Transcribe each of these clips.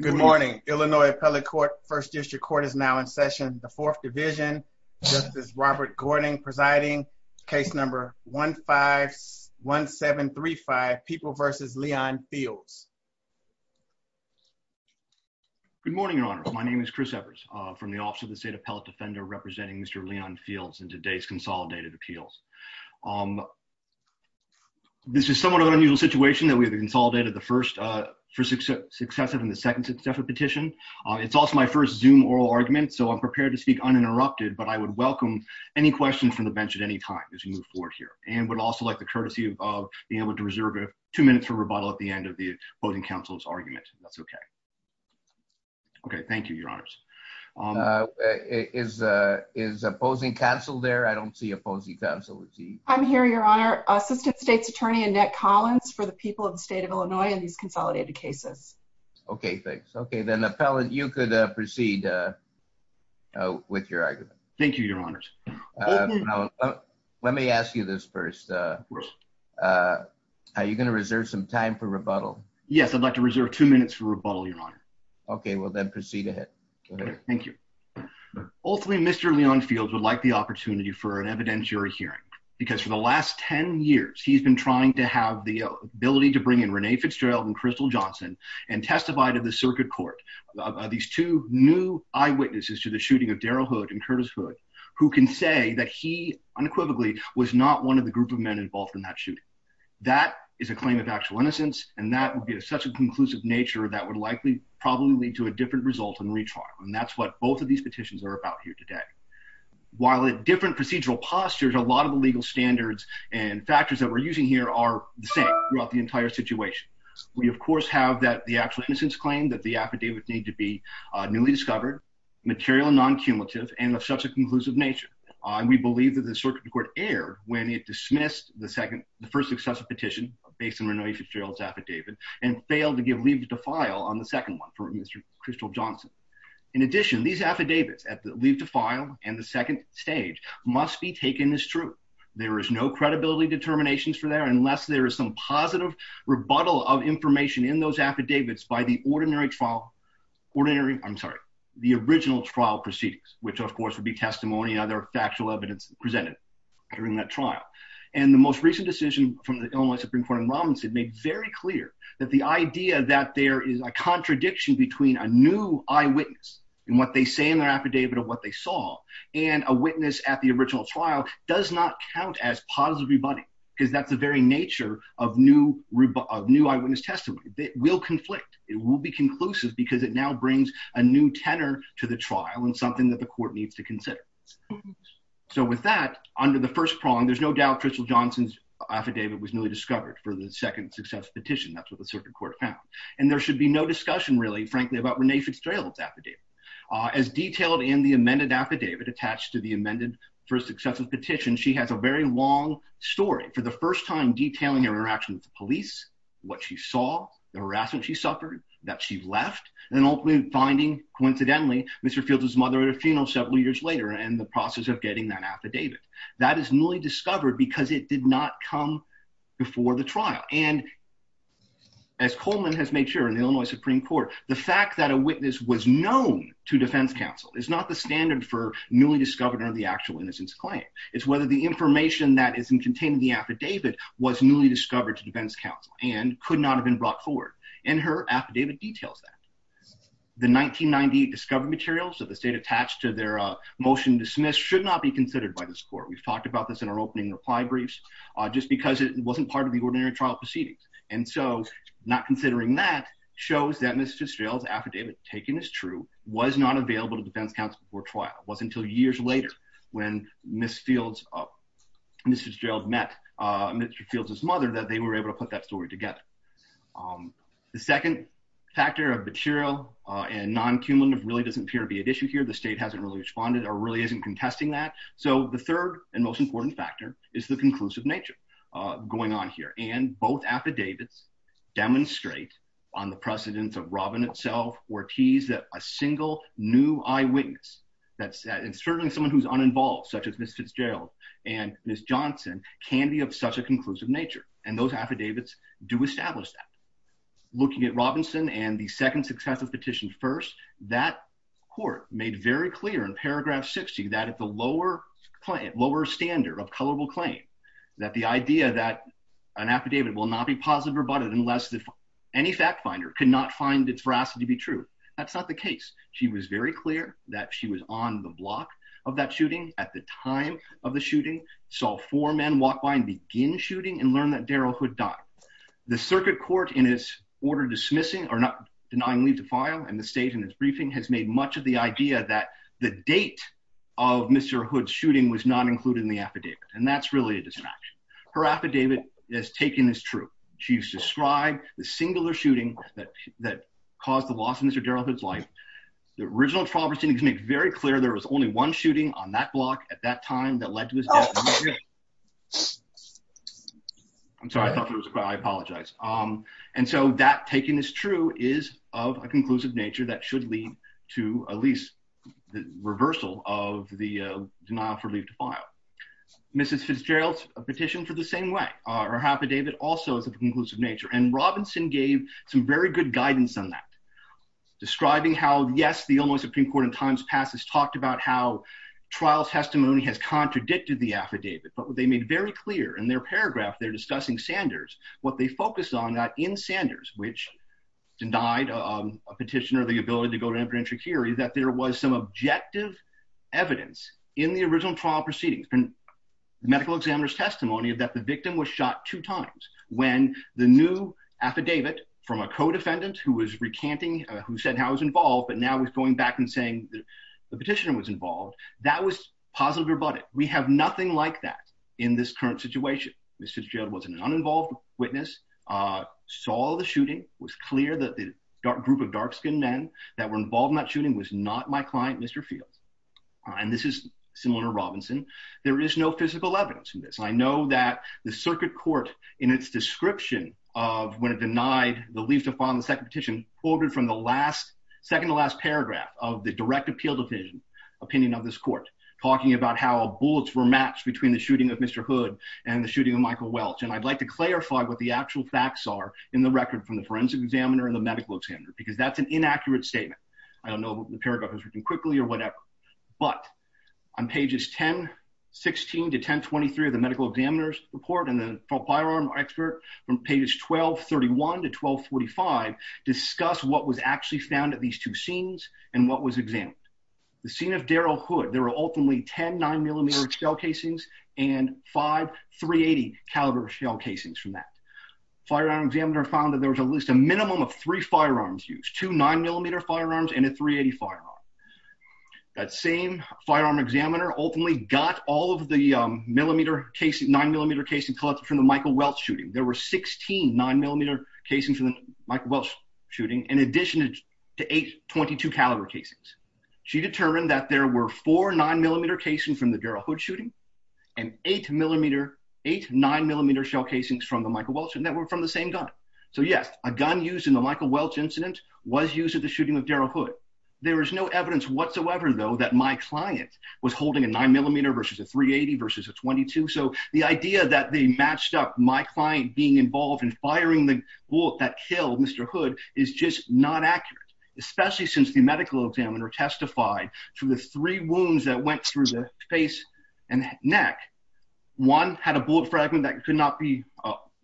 Good morning. Illinois Appellate Court, First District Court is now in session. The Fourth Division, Justice Robert Gordon presiding, case number 1-5-1735, People v. Leon Fields. Good morning, Your Honor. My name is Chris Evers from the Office of the State Appellate Defender representing Mr. Leon Fields in today's consolidated appeals. This is somewhat of an unusual situation that we have consolidated the first successive and second deferred petition. It's also my first Zoom oral argument, so I'm prepared to speak uninterrupted, but I would welcome any questions from the bench at any time as we move forward here. And would also like the courtesy of being able to reserve two minutes for rebuttal at the end of the opposing counsel's argument, if that's okay. Okay, thank you, Your Honors. Is opposing counsel there? I don't see opposing counsel. I'm here, Your Honor. Assistant State's Attorney Annette Collins for the people of the state of Illinois in these consolidated cases. Okay, thanks. Okay, then Appellant, you could proceed with your argument. Thank you, Your Honors. Let me ask you this first. Are you going to reserve some time for rebuttal? Yes, I'd like to reserve two minutes for rebuttal, Your Honor. Okay, well then proceed ahead. Go ahead. Thank you. Ultimately, Mr. Leon Fields would like the opportunity for an evidentiary hearing, because for the last 10 years, he's been trying to have the ability to bring in Renee Fitzgerald and Crystal Johnson and testify to the circuit court. These two new eyewitnesses to the shooting of Daryl Hood and Curtis Hood, who can say that he unequivocally was not one of the group of men involved in that shooting. That is a claim of actual innocence, and that would be of such a conclusive nature that would likely probably lead to a different result in retrial. And that's what both of these petitions are about here today. While at different procedural postures, a lot of the legal standards and factors that we're using here are the same throughout the court. We, of course, have the actual innocence claim that the affidavits need to be newly discovered, material and non-cumulative, and of such a conclusive nature. We believe that the circuit court erred when it dismissed the first successive petition based on Renee Fitzgerald's affidavit and failed to give leave to file on the second one for Mr. Crystal Johnson. In addition, these affidavits, leave to file and the second stage, must be taken as true. There is no credibility determinations for there unless there is some positive rebuttal of information in those affidavits by the ordinary trial, ordinary, I'm sorry, the original trial proceedings, which of course would be testimony and other factual evidence presented during that trial. And the most recent decision from the Illinois Supreme Court in Robinson made very clear that the idea that there is a contradiction between a new eyewitness and what they say in their affidavit of what they saw and a witness at the original trial does not count as positive rebuttal because that's the very nature of new eyewitness testimony. It will conflict. It will be conclusive because it now brings a new tenor to the trial and something that the court needs to consider. So with that, under the first prong, there's no doubt Crystal Johnson's affidavit was newly discovered for the second successive petition. That's what the circuit court found. And there should be no discussion really, frankly, about Renee Fitzgerald's affidavit. As detailed in the amended affidavit attached to the amended first successive petition, she has a very long story for the first time detailing her interaction with the police, what she saw, the harassment she suffered, that she left, and ultimately finding coincidentally Mr. Fields' mother at a funeral several years later and the process of getting that affidavit. That is newly discovered because it did not come before the trial. And as Coleman has made sure in the Illinois Supreme Court, the fact that a witness was known to defense counsel is not the standard for newly discovered under the actual innocence claim. It's whether the information that is contained in the affidavit was newly discovered to defense counsel and could not have been brought forward. And her affidavit details that. The 1990 discovery materials that the state attached to their motion dismissed should not be considered by this court. We've talked about this in our opening reply briefs just because it wasn't part of the ordinary trial proceedings. And so not considering that shows that Ms. Fitzgerald's affidavit taken as true was not available to defense counsel before trial. It wasn't until years later when Ms. Fields, Ms. Fitzgerald met Mr. Fields' mother that they were able to put that story together. The second factor of material and non-cumulative really doesn't appear to be at issue here. The state hasn't really responded or really isn't contesting that. So the third and most important factor is the conclusive nature going on here. And both affidavits demonstrate on the precedence of Robin itself Ortiz that a single new eyewitness that's certainly someone who's uninvolved such as Ms. Fitzgerald and Ms. Johnson can be of such a conclusive nature. And those affidavits do establish that. Looking at Robinson and the second successive petition first, that court made very clear in paragraph 60 that at the lower standard of colorable claim, that the idea that an affidavit will not be positively rebutted unless any fact finder could not find its veracity to be true. That's not the case. She was very clear that she was on the block of that shooting at the time of the shooting, saw four men walk by and begin shooting and learn that Daryl Hood died. The circuit court in its order dismissing or not denying leave to file and the state in its briefing has made much of the idea that the date of Mr. Hood's shooting was not included in the affidavit. And that's really a distraction. Her affidavit is taken as true. She's described the singular shooting that caused the loss of Mr. Daryl Hood's life. The original trial proceedings make very clear there was only one shooting on that block at that time that led to his death. I'm sorry, I thought it was, I apologize. And so that taken as true is of a conclusive nature that should lead to at least the reversal of the denial for leave to file. Mrs. Fitzgerald's petition for the same way, her affidavit also is of a conclusive nature. And Robinson gave some very good guidance on that, describing how yes, the Illinois Supreme Court in times past has talked about how trial testimony has contradicted the affidavit. But what they made very clear in their paragraph, they're discussing Sanders, what they focused on that in Sanders, which denied a petitioner, the ability to go to an impregnatory hearing, that there was some objective evidence in the original trial proceedings and medical examiner's testimony that the victim was shot two times when the new affidavit from a co-defendant who was recanting, who said how he was involved, but now he's going back and saying the petitioner was involved. That was positively rebutted. We have nothing like that in this current situation. Mrs. Fitzgerald was an uninvolved witness, saw the shooting, was clear that the group of dark-skinned men that were involved in that shooting was not my client, Mr. Fields. And this is similar to Robinson. There is no physical evidence in this. I know that the circuit court in its description of when it denied the leave to file on the second petition, quoted from the last, second to last paragraph of the direct appeal opinion of this court, talking about how bullets were matched between the shooting of Mr. Hood and the shooting of Michael Welch. And I'd like to clarify what the actual facts are in the record from the forensic examiner and the medical examiner, because that's an inaccurate statement. I don't know if the paragraph is written quickly or whatever, but on pages 10, 16 to 10, 23 of the medical examiner's report and the firearm expert from pages 12, 31 to 12, 45 discuss what was actually found at these two scenes and what was examined. The scene of Darrell Hood, there were ultimately 10 9mm shell casings and five .380 caliber shell casings from that. Firearm examiner found that there was at least a minimum of three firearms used, two 9mm firearms and a .380 firearm. That same firearm examiner ultimately got all of the 9mm casing collected from the Michael Welch shooting. There were 16 9mm casings from the Michael Welch shooting, in addition to eight .22 caliber casings. She determined that there were four 9mm casings from the Darrell Hood shooting, and eight 9mm shell casings from the Michael Welch, and that were from the same gun. So yes, a gun used in the Michael Welch incident was used at the shooting of Darrell Hood. There is no evidence whatsoever, though, that my client was holding a 9mm versus a .380 versus a .22. So the idea that they matched up my client being involved in firing the bullet that killed Mr. Hood is just not accurate, especially since the medical examiner testified to the three wounds that went through the face and neck. One had a bullet fragment that could not be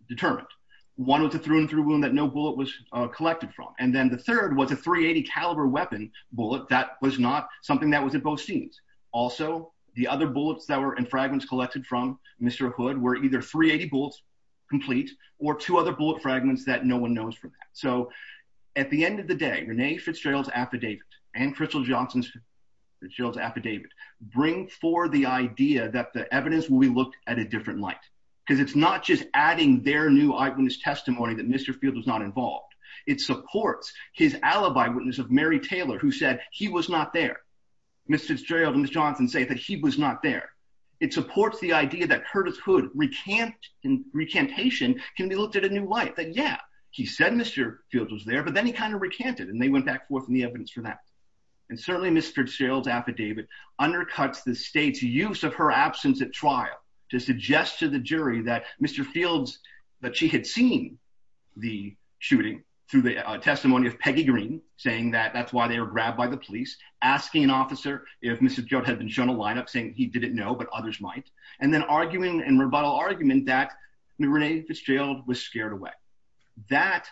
determined. One was a through and through wound that no bullet was collected from, and then the third was a .380 caliber weapon bullet that was not something that was at both scenes. Also, the other bullets that and fragments collected from Mr. Hood were either .380 bullets complete, or two other bullet fragments that no one knows from that. So at the end of the day, Renee Fitzgerald's affidavit and Crystal Johnson's Fitzgerald's affidavit bring forward the idea that the evidence will be looked at a different light, because it's not just adding their new eyewitness testimony that Mr. Field was not involved. It supports his alibi witness of Mary Taylor, who said he was not there. Ms. Fitzgerald and Ms. Johnson say that he was not there. It supports the idea that Curtis Hood recantation can be looked at a new light, that yeah, he said Mr. Field was there, but then he kind of recanted, and they went back forth in the evidence for that. And certainly Ms. Fitzgerald's affidavit undercuts the state's use of her absence at trial to suggest to the jury that Mr. Field's, that she had seen the shooting through the testimony of asking an officer if Mr. Field had been shown a lineup saying he didn't know, but others might, and then arguing in rebuttal argument that Renee Fitzgerald was scared away. That,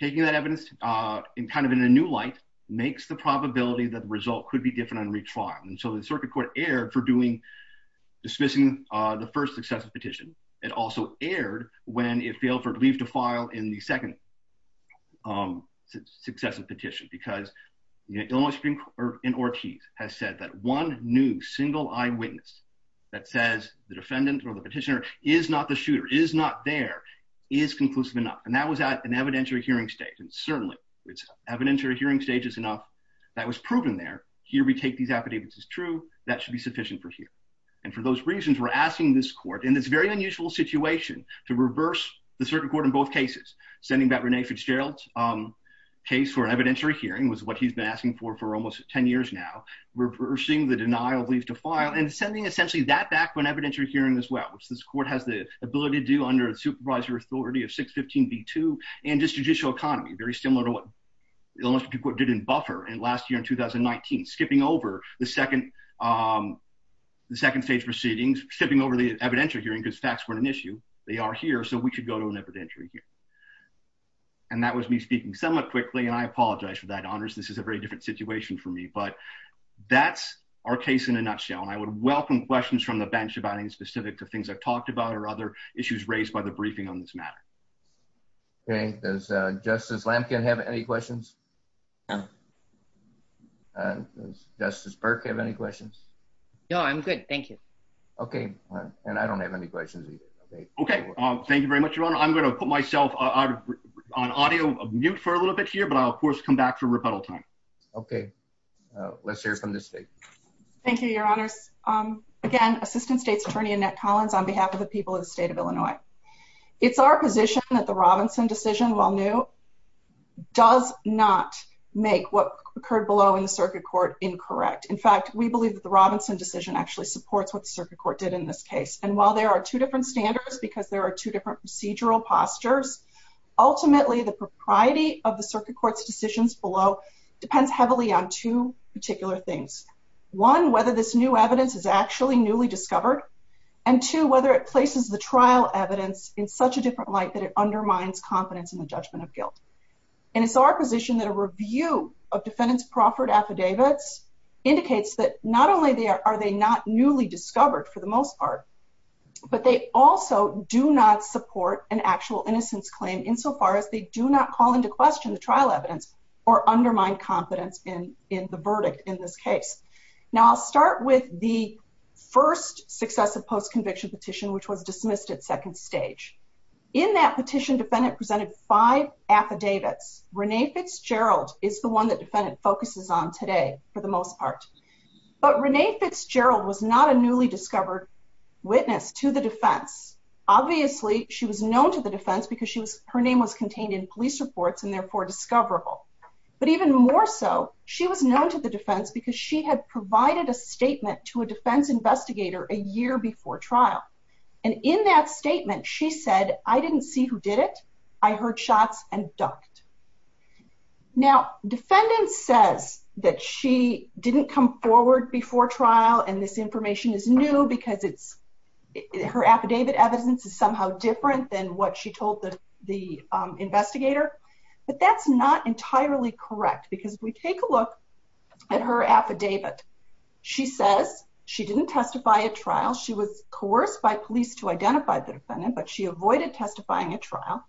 taking that evidence in kind of a new light, makes the probability that the result could be different on retrial. And so the circuit court erred for doing, dismissing the first successive petition. It also erred when it failed for it to leave to file in the second successive petition, because the Illinois Supreme Court in Ortiz has said that one new single eyewitness that says the defendant or the petitioner is not the shooter, is not there, is conclusive enough. And that was at an evidentiary hearing stage, and certainly it's evidentiary hearing stage is enough that was proven there. Here we take these affidavits as true. That should be sufficient for here. And for those reasons, we're asking this court, in this very unusual situation, to reverse the circuit court in both cases, sending back Renee Fitzgerald's case for an evidentiary hearing, was what he's been asking for for almost 10 years now, reversing the denial of leave to file, and sending essentially that back for an evidentiary hearing as well, which this court has the ability to do under the supervisory authority of 615b2, and just judicial economy, very similar to what the Illinois Supreme Court did in Buffer last year in 2019, skipping over the second stage proceedings, skipping over the evidentiary hearing because facts weren't an issue. They are here, so we could go to an evidentiary hearing. That was me speaking somewhat quickly, and I apologize for that, Honest. This is a very different situation for me, but that's our case in a nutshell, and I would welcome questions from the bench about any specifics of things I've talked about or other issues raised by the briefing on this matter. Okay. Does Justice Lamkin have any questions? Does Justice Burke have any questions? No, I'm good. Thank you. Okay. And I don't have any questions either. Okay. Thank you very much, Your Honor. I'm going to mute for a little bit here, but I'll, of course, come back for rebuttal time. Okay. Let's hear from the state. Thank you, Your Honors. Again, Assistant State's Attorney Annette Collins on behalf of the people of the state of Illinois. It's our position that the Robinson decision, while new, does not make what occurred below in the circuit court incorrect. In fact, we believe that the Robinson decision actually supports what the circuit court did in this case, and while there are two different standards because there are two different procedural postures, ultimately the propriety of the circuit court's decisions below depends heavily on two particular things. One, whether this new evidence is actually newly discovered, and two, whether it places the trial evidence in such a different light that it undermines confidence in the judgment of guilt. And it's our position that a review of defendants' proffered affidavits indicates that not only are they not newly discovered for the most part, but they also do not support an actual innocence claim insofar as they do not call into question the trial evidence or undermine confidence in the verdict in this case. Now, I'll start with the first successive post-conviction petition, which was dismissed at second stage. In that petition, defendant presented five affidavits. Renee Fitzgerald is the one that defendant focuses on today for the most part, but Renee Fitzgerald was not a newly discovered witness to the defense. Obviously, she was known to the defense because her name was contained in police reports and therefore discoverable. But even more so, she was known to the defense because she had provided a statement to a defense investigator a year before trial. And in that statement, she said, I didn't see who did it. I heard shots and ducked. Now, defendant says that she didn't come forward before trial and this information is new because her affidavit evidence is somehow different than what she told the investigator. But that's not entirely correct because if we take a look at her affidavit, she says she didn't testify at trial. She was coerced by police to identify the defendant, but she avoided testifying at trial.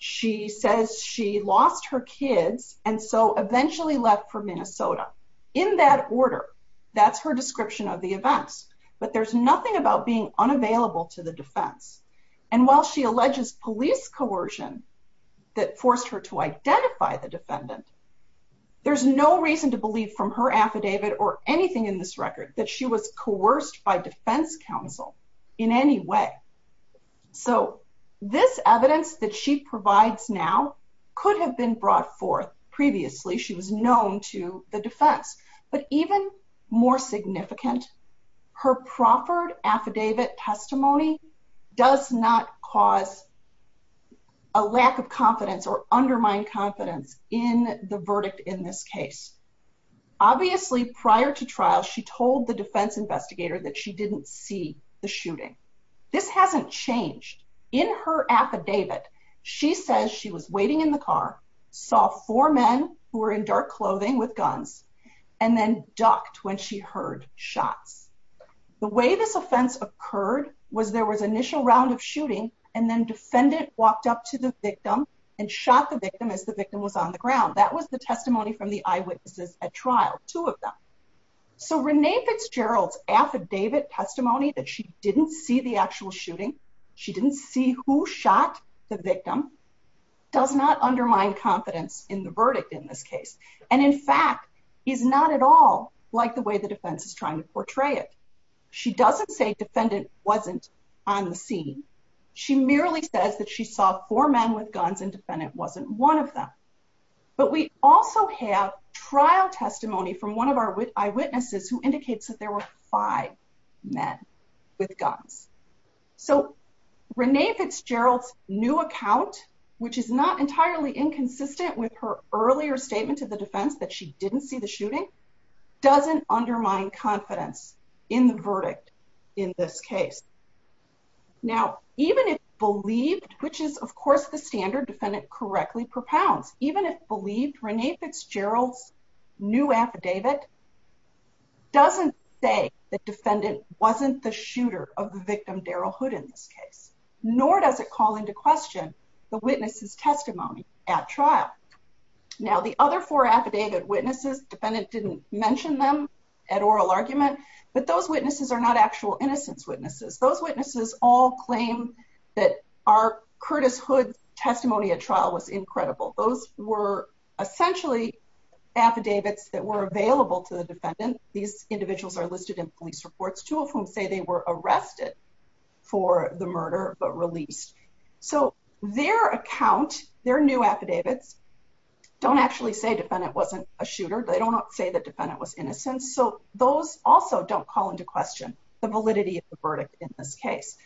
She says she lost her kids and so eventually left for Minnesota. In that order, that's her description of the events, but there's nothing about being unavailable to the defense. And while she alleges police coercion that forced her to identify the defendant, there's no reason to believe from her affidavit or anything in this record that she was coerced by defense counsel in any way. So, this evidence that she provides now could have been brought forth previously. She was known to the defense, but even more significant, her proffered affidavit testimony does not cause a lack of confidence or undermine confidence in the verdict in this case. Obviously, prior to trial, she told the defense she says she was waiting in the car, saw four men who were in dark clothing with guns, and then ducked when she heard shots. The way this offense occurred was there was initial round of shooting and then defendant walked up to the victim and shot the victim as the victim was on the ground. That was the testimony from the eyewitnesses at trial, two of them. So, Renee Fitzgerald's affidavit testimony that she didn't see the actual shooting, she didn't see who shot the victim, does not undermine confidence in the verdict in this case. And in fact, is not at all like the way the defense is trying to portray it. She doesn't say defendant wasn't on the scene. She merely says that she saw four men with guns and defendant wasn't one of them. But we also have trial testimony from one of our eyewitnesses who indicates that there were five men with guns. So, Renee Fitzgerald's new account, which is not entirely inconsistent with her earlier statement to the defense that she didn't see the shooting, doesn't undermine confidence in the verdict in this case. Now, even if believed, which is of course the standard defendant correctly propounds, even if believed, Renee Fitzgerald's new affidavit doesn't say that defendant wasn't the shooter of the victim, Darrell Hood, in this case, nor does it call into question the witness's testimony at trial. Now, the other four affidavit witnesses, defendant didn't mention them at oral argument, but those witnesses are not actual innocence witnesses. Those witnesses all claim that our Curtis Hood testimony at trial was incredible. Those were essentially affidavits that were available to the defendant. These individuals are listed in police reports, two of whom say they were arrested for the murder, but released. So, their account, their new affidavits don't actually say defendant wasn't a shooter. They don't say defendant was innocent. So, those also don't call into question the validity of the verdict in this case.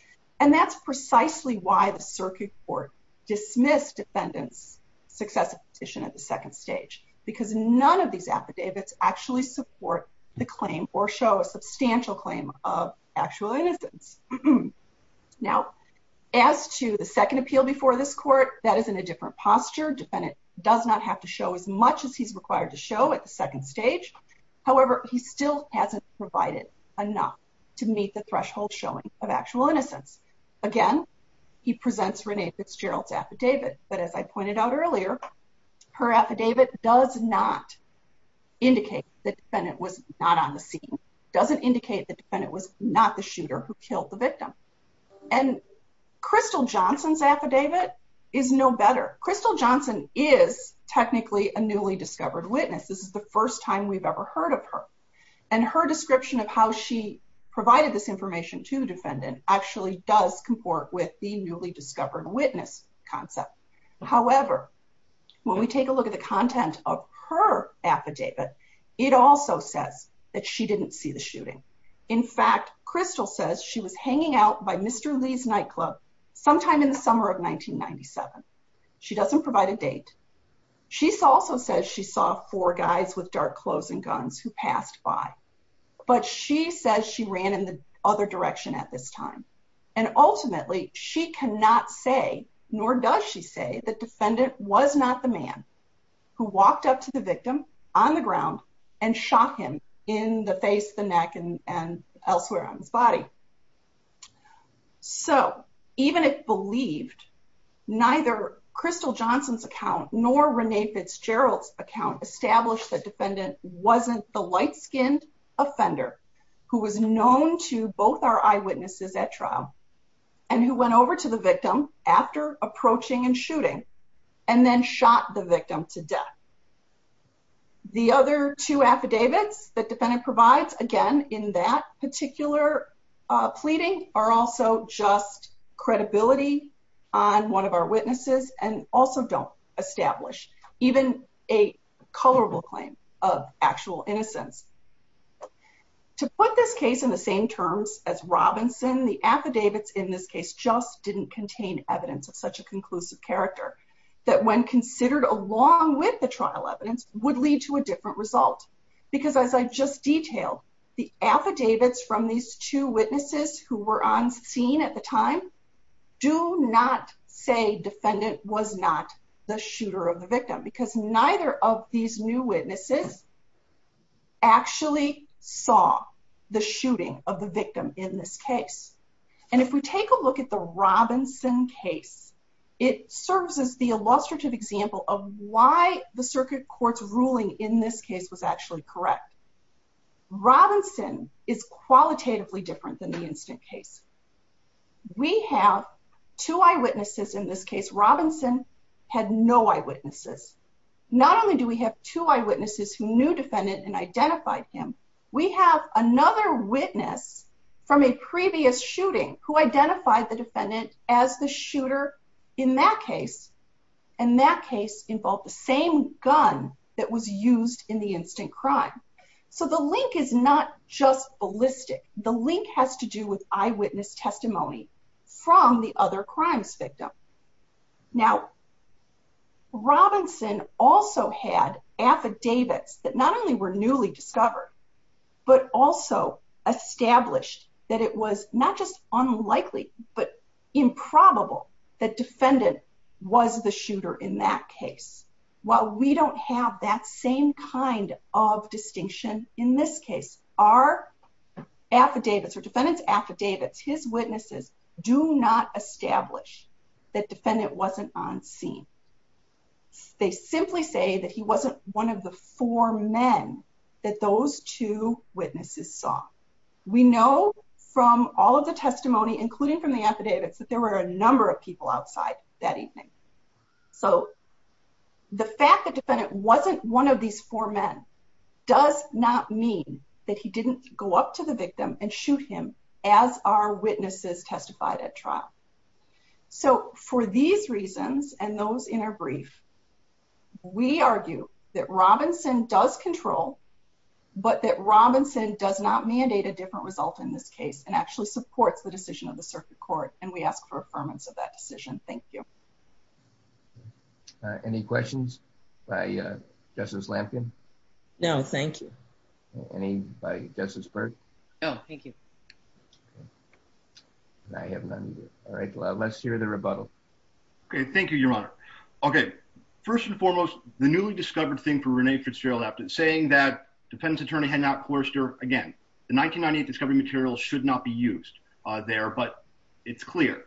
And that's precisely why the circuit court dismissed defendant's successive petition at the second stage because none of these affidavits actually support the claim or show a substantial claim of actual innocence. Now, as to the second appeal before this court, that is in a different posture. Defendant does not have to show as much as he's at the second stage. However, he still hasn't provided enough to meet the threshold showing of actual innocence. Again, he presents Renee Fitzgerald's affidavit, but as I pointed out earlier, her affidavit does not indicate the defendant was not on the scene, doesn't indicate the defendant was not the shooter who killed the victim. And Crystal Johnson's affidavit is no better. Crystal Johnson is technically a newly discovered witness. This is the first time we've ever heard of her. And her description of how she provided this information to the defendant actually does comport with the newly discovered witness concept. However, when we take a look at the content of her affidavit, it also says that she didn't see the shooting. In fact, she doesn't provide a date. She also says she saw four guys with dark clothes and guns who passed by. But she says she ran in the other direction at this time. And ultimately, she cannot say, nor does she say the defendant was not the man who walked up to the victim on the ground and shot him in the face, the neck and elsewhere on his body. So even if believed, neither Crystal Johnson's account nor Renee Fitzgerald's account established the defendant wasn't the light-skinned offender who was known to both our eyewitnesses at trial, and who went over to the victim after approaching and shooting, and then shot the victim to death. The other two affidavits that defendant provides, again, in that particular pleading are also just credibility on one of our witnesses and also don't establish even a colorable claim of actual innocence. To put this case in the same terms as Robinson, the affidavits in this case just didn't contain evidence of such a conclusive character, that when considered along with the trial evidence, would lead to a different result. Because as I just detailed, the affidavits from these two witnesses who were on scene at the time, do not say defendant was not the shooter of the victim, because neither of these new witnesses actually saw the shooting of the victim in this case. And if we take a look at the Robinson case, it serves as the illustrative example of why the circuit court's ruling in this case was actually correct. Robinson is qualitatively different than the instant case. We have two eyewitnesses in this case. Robinson had no eyewitnesses. Not only do we have two eyewitnesses who knew defendant and identified him, we have another witness from a previous shooting who identified the defendant as the shooter in that case. And that case involved the same gun that was used in the instant crime. So the link is not just ballistic. The link has to do with eyewitness testimony from the other crimes victim. Now Robinson also had affidavits that not were newly discovered, but also established that it was not just unlikely, but improbable that defendant was the shooter in that case. While we don't have that same kind of distinction in this case, our affidavits or defendant's affidavits, his witnesses do not establish that defendant wasn't on scene. They simply say that he wasn't one of the four men that those two witnesses saw. We know from all of the testimony, including from the affidavits, that there were a number of people outside that evening. So the fact that defendant wasn't one of these four men does not mean that he didn't go up to the victim and shoot him as our witnesses testified at trial. So for these reasons and those in our brief, we argue that Robinson does control, but that Robinson does not mandate a different result in this case and actually supports the decision of the circuit court. And we ask for affirmance of that decision. Thank you. Any questions by Justice Lampkin? No, thank you. Any by Justice Byrd? No, thank you. I have none. All right, let's hear the rebuttal. Okay, thank you, Your Honor. Okay, first and foremost, the newly discovered thing for Rene Fitzgerald saying that defendant's attorney had not coerced her again. The 1998 discovery materials should not be used there, but it's clear.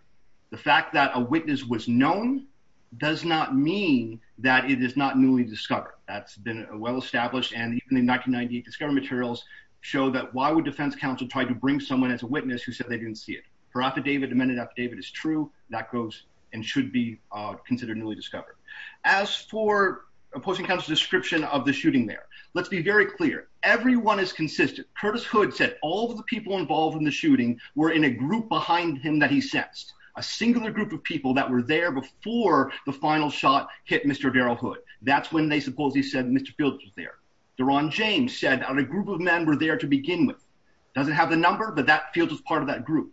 The fact that a witness was known does not mean that it is not newly discovered. That's been well established, and even the 1998 discovery materials show that why would defense counsel try to bring someone as a witness who said they didn't see it. Her affidavit, amended affidavit, is true. That goes and should be considered newly discovered. As for opposing counsel's description of the shooting there, let's be very clear. Everyone is consistent. Curtis Hood said all the people involved in the shooting were in a group behind him that he sensed. A singular group of people that were there before the final shot hit Mr. Darrell Hood. That's when they supposedly said Mr. Fields was there. Deron James said a group of men were there to begin with. Doesn't have the field as part of that group.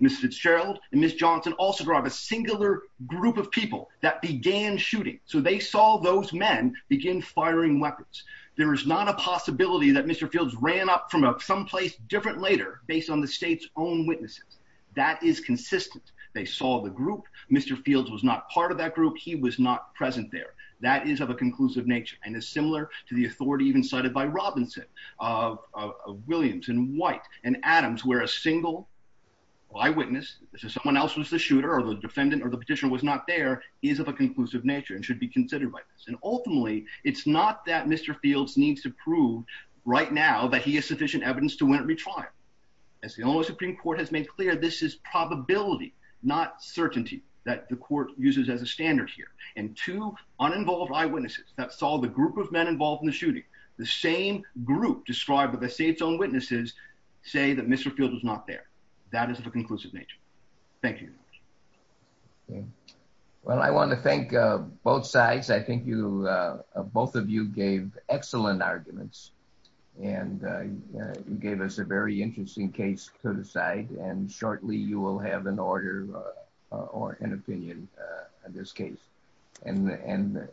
Mr. Fitzgerald and Ms. Johnson also drove a singular group of people that began shooting. So they saw those men begin firing weapons. There is not a possibility that Mr. Fields ran up from someplace different later based on the state's own witnesses. That is consistent. They saw the group. Mr. Fields was not part of that group. He was not present there. That is of a conclusive nature and is similar to the authority even cited by Robinson, of Williams and White and Adams, where a single eyewitness, someone else was the shooter or the defendant or the petitioner was not there, is of a conclusive nature and should be considered by this. And ultimately, it's not that Mr. Fields needs to prove right now that he has sufficient evidence to win a retrial. As the Illinois Supreme Court has made clear, this is probability, not certainty, that the court uses as a standard here. And two uninvolved eyewitnesses that saw the group of men involved in the shooting, the same group described by the state's own witnesses, say that Mr. Fields was not there. That is of a conclusive nature. Thank you. Well, I want to thank both sides. I think you, both of you gave excellent arguments and you gave us a very interesting case to decide. And shortly, you will have an order or an opinion on this case. And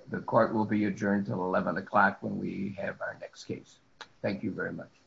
the court will be adjourned until 11 o'clock when we have our next case. Thank you very much.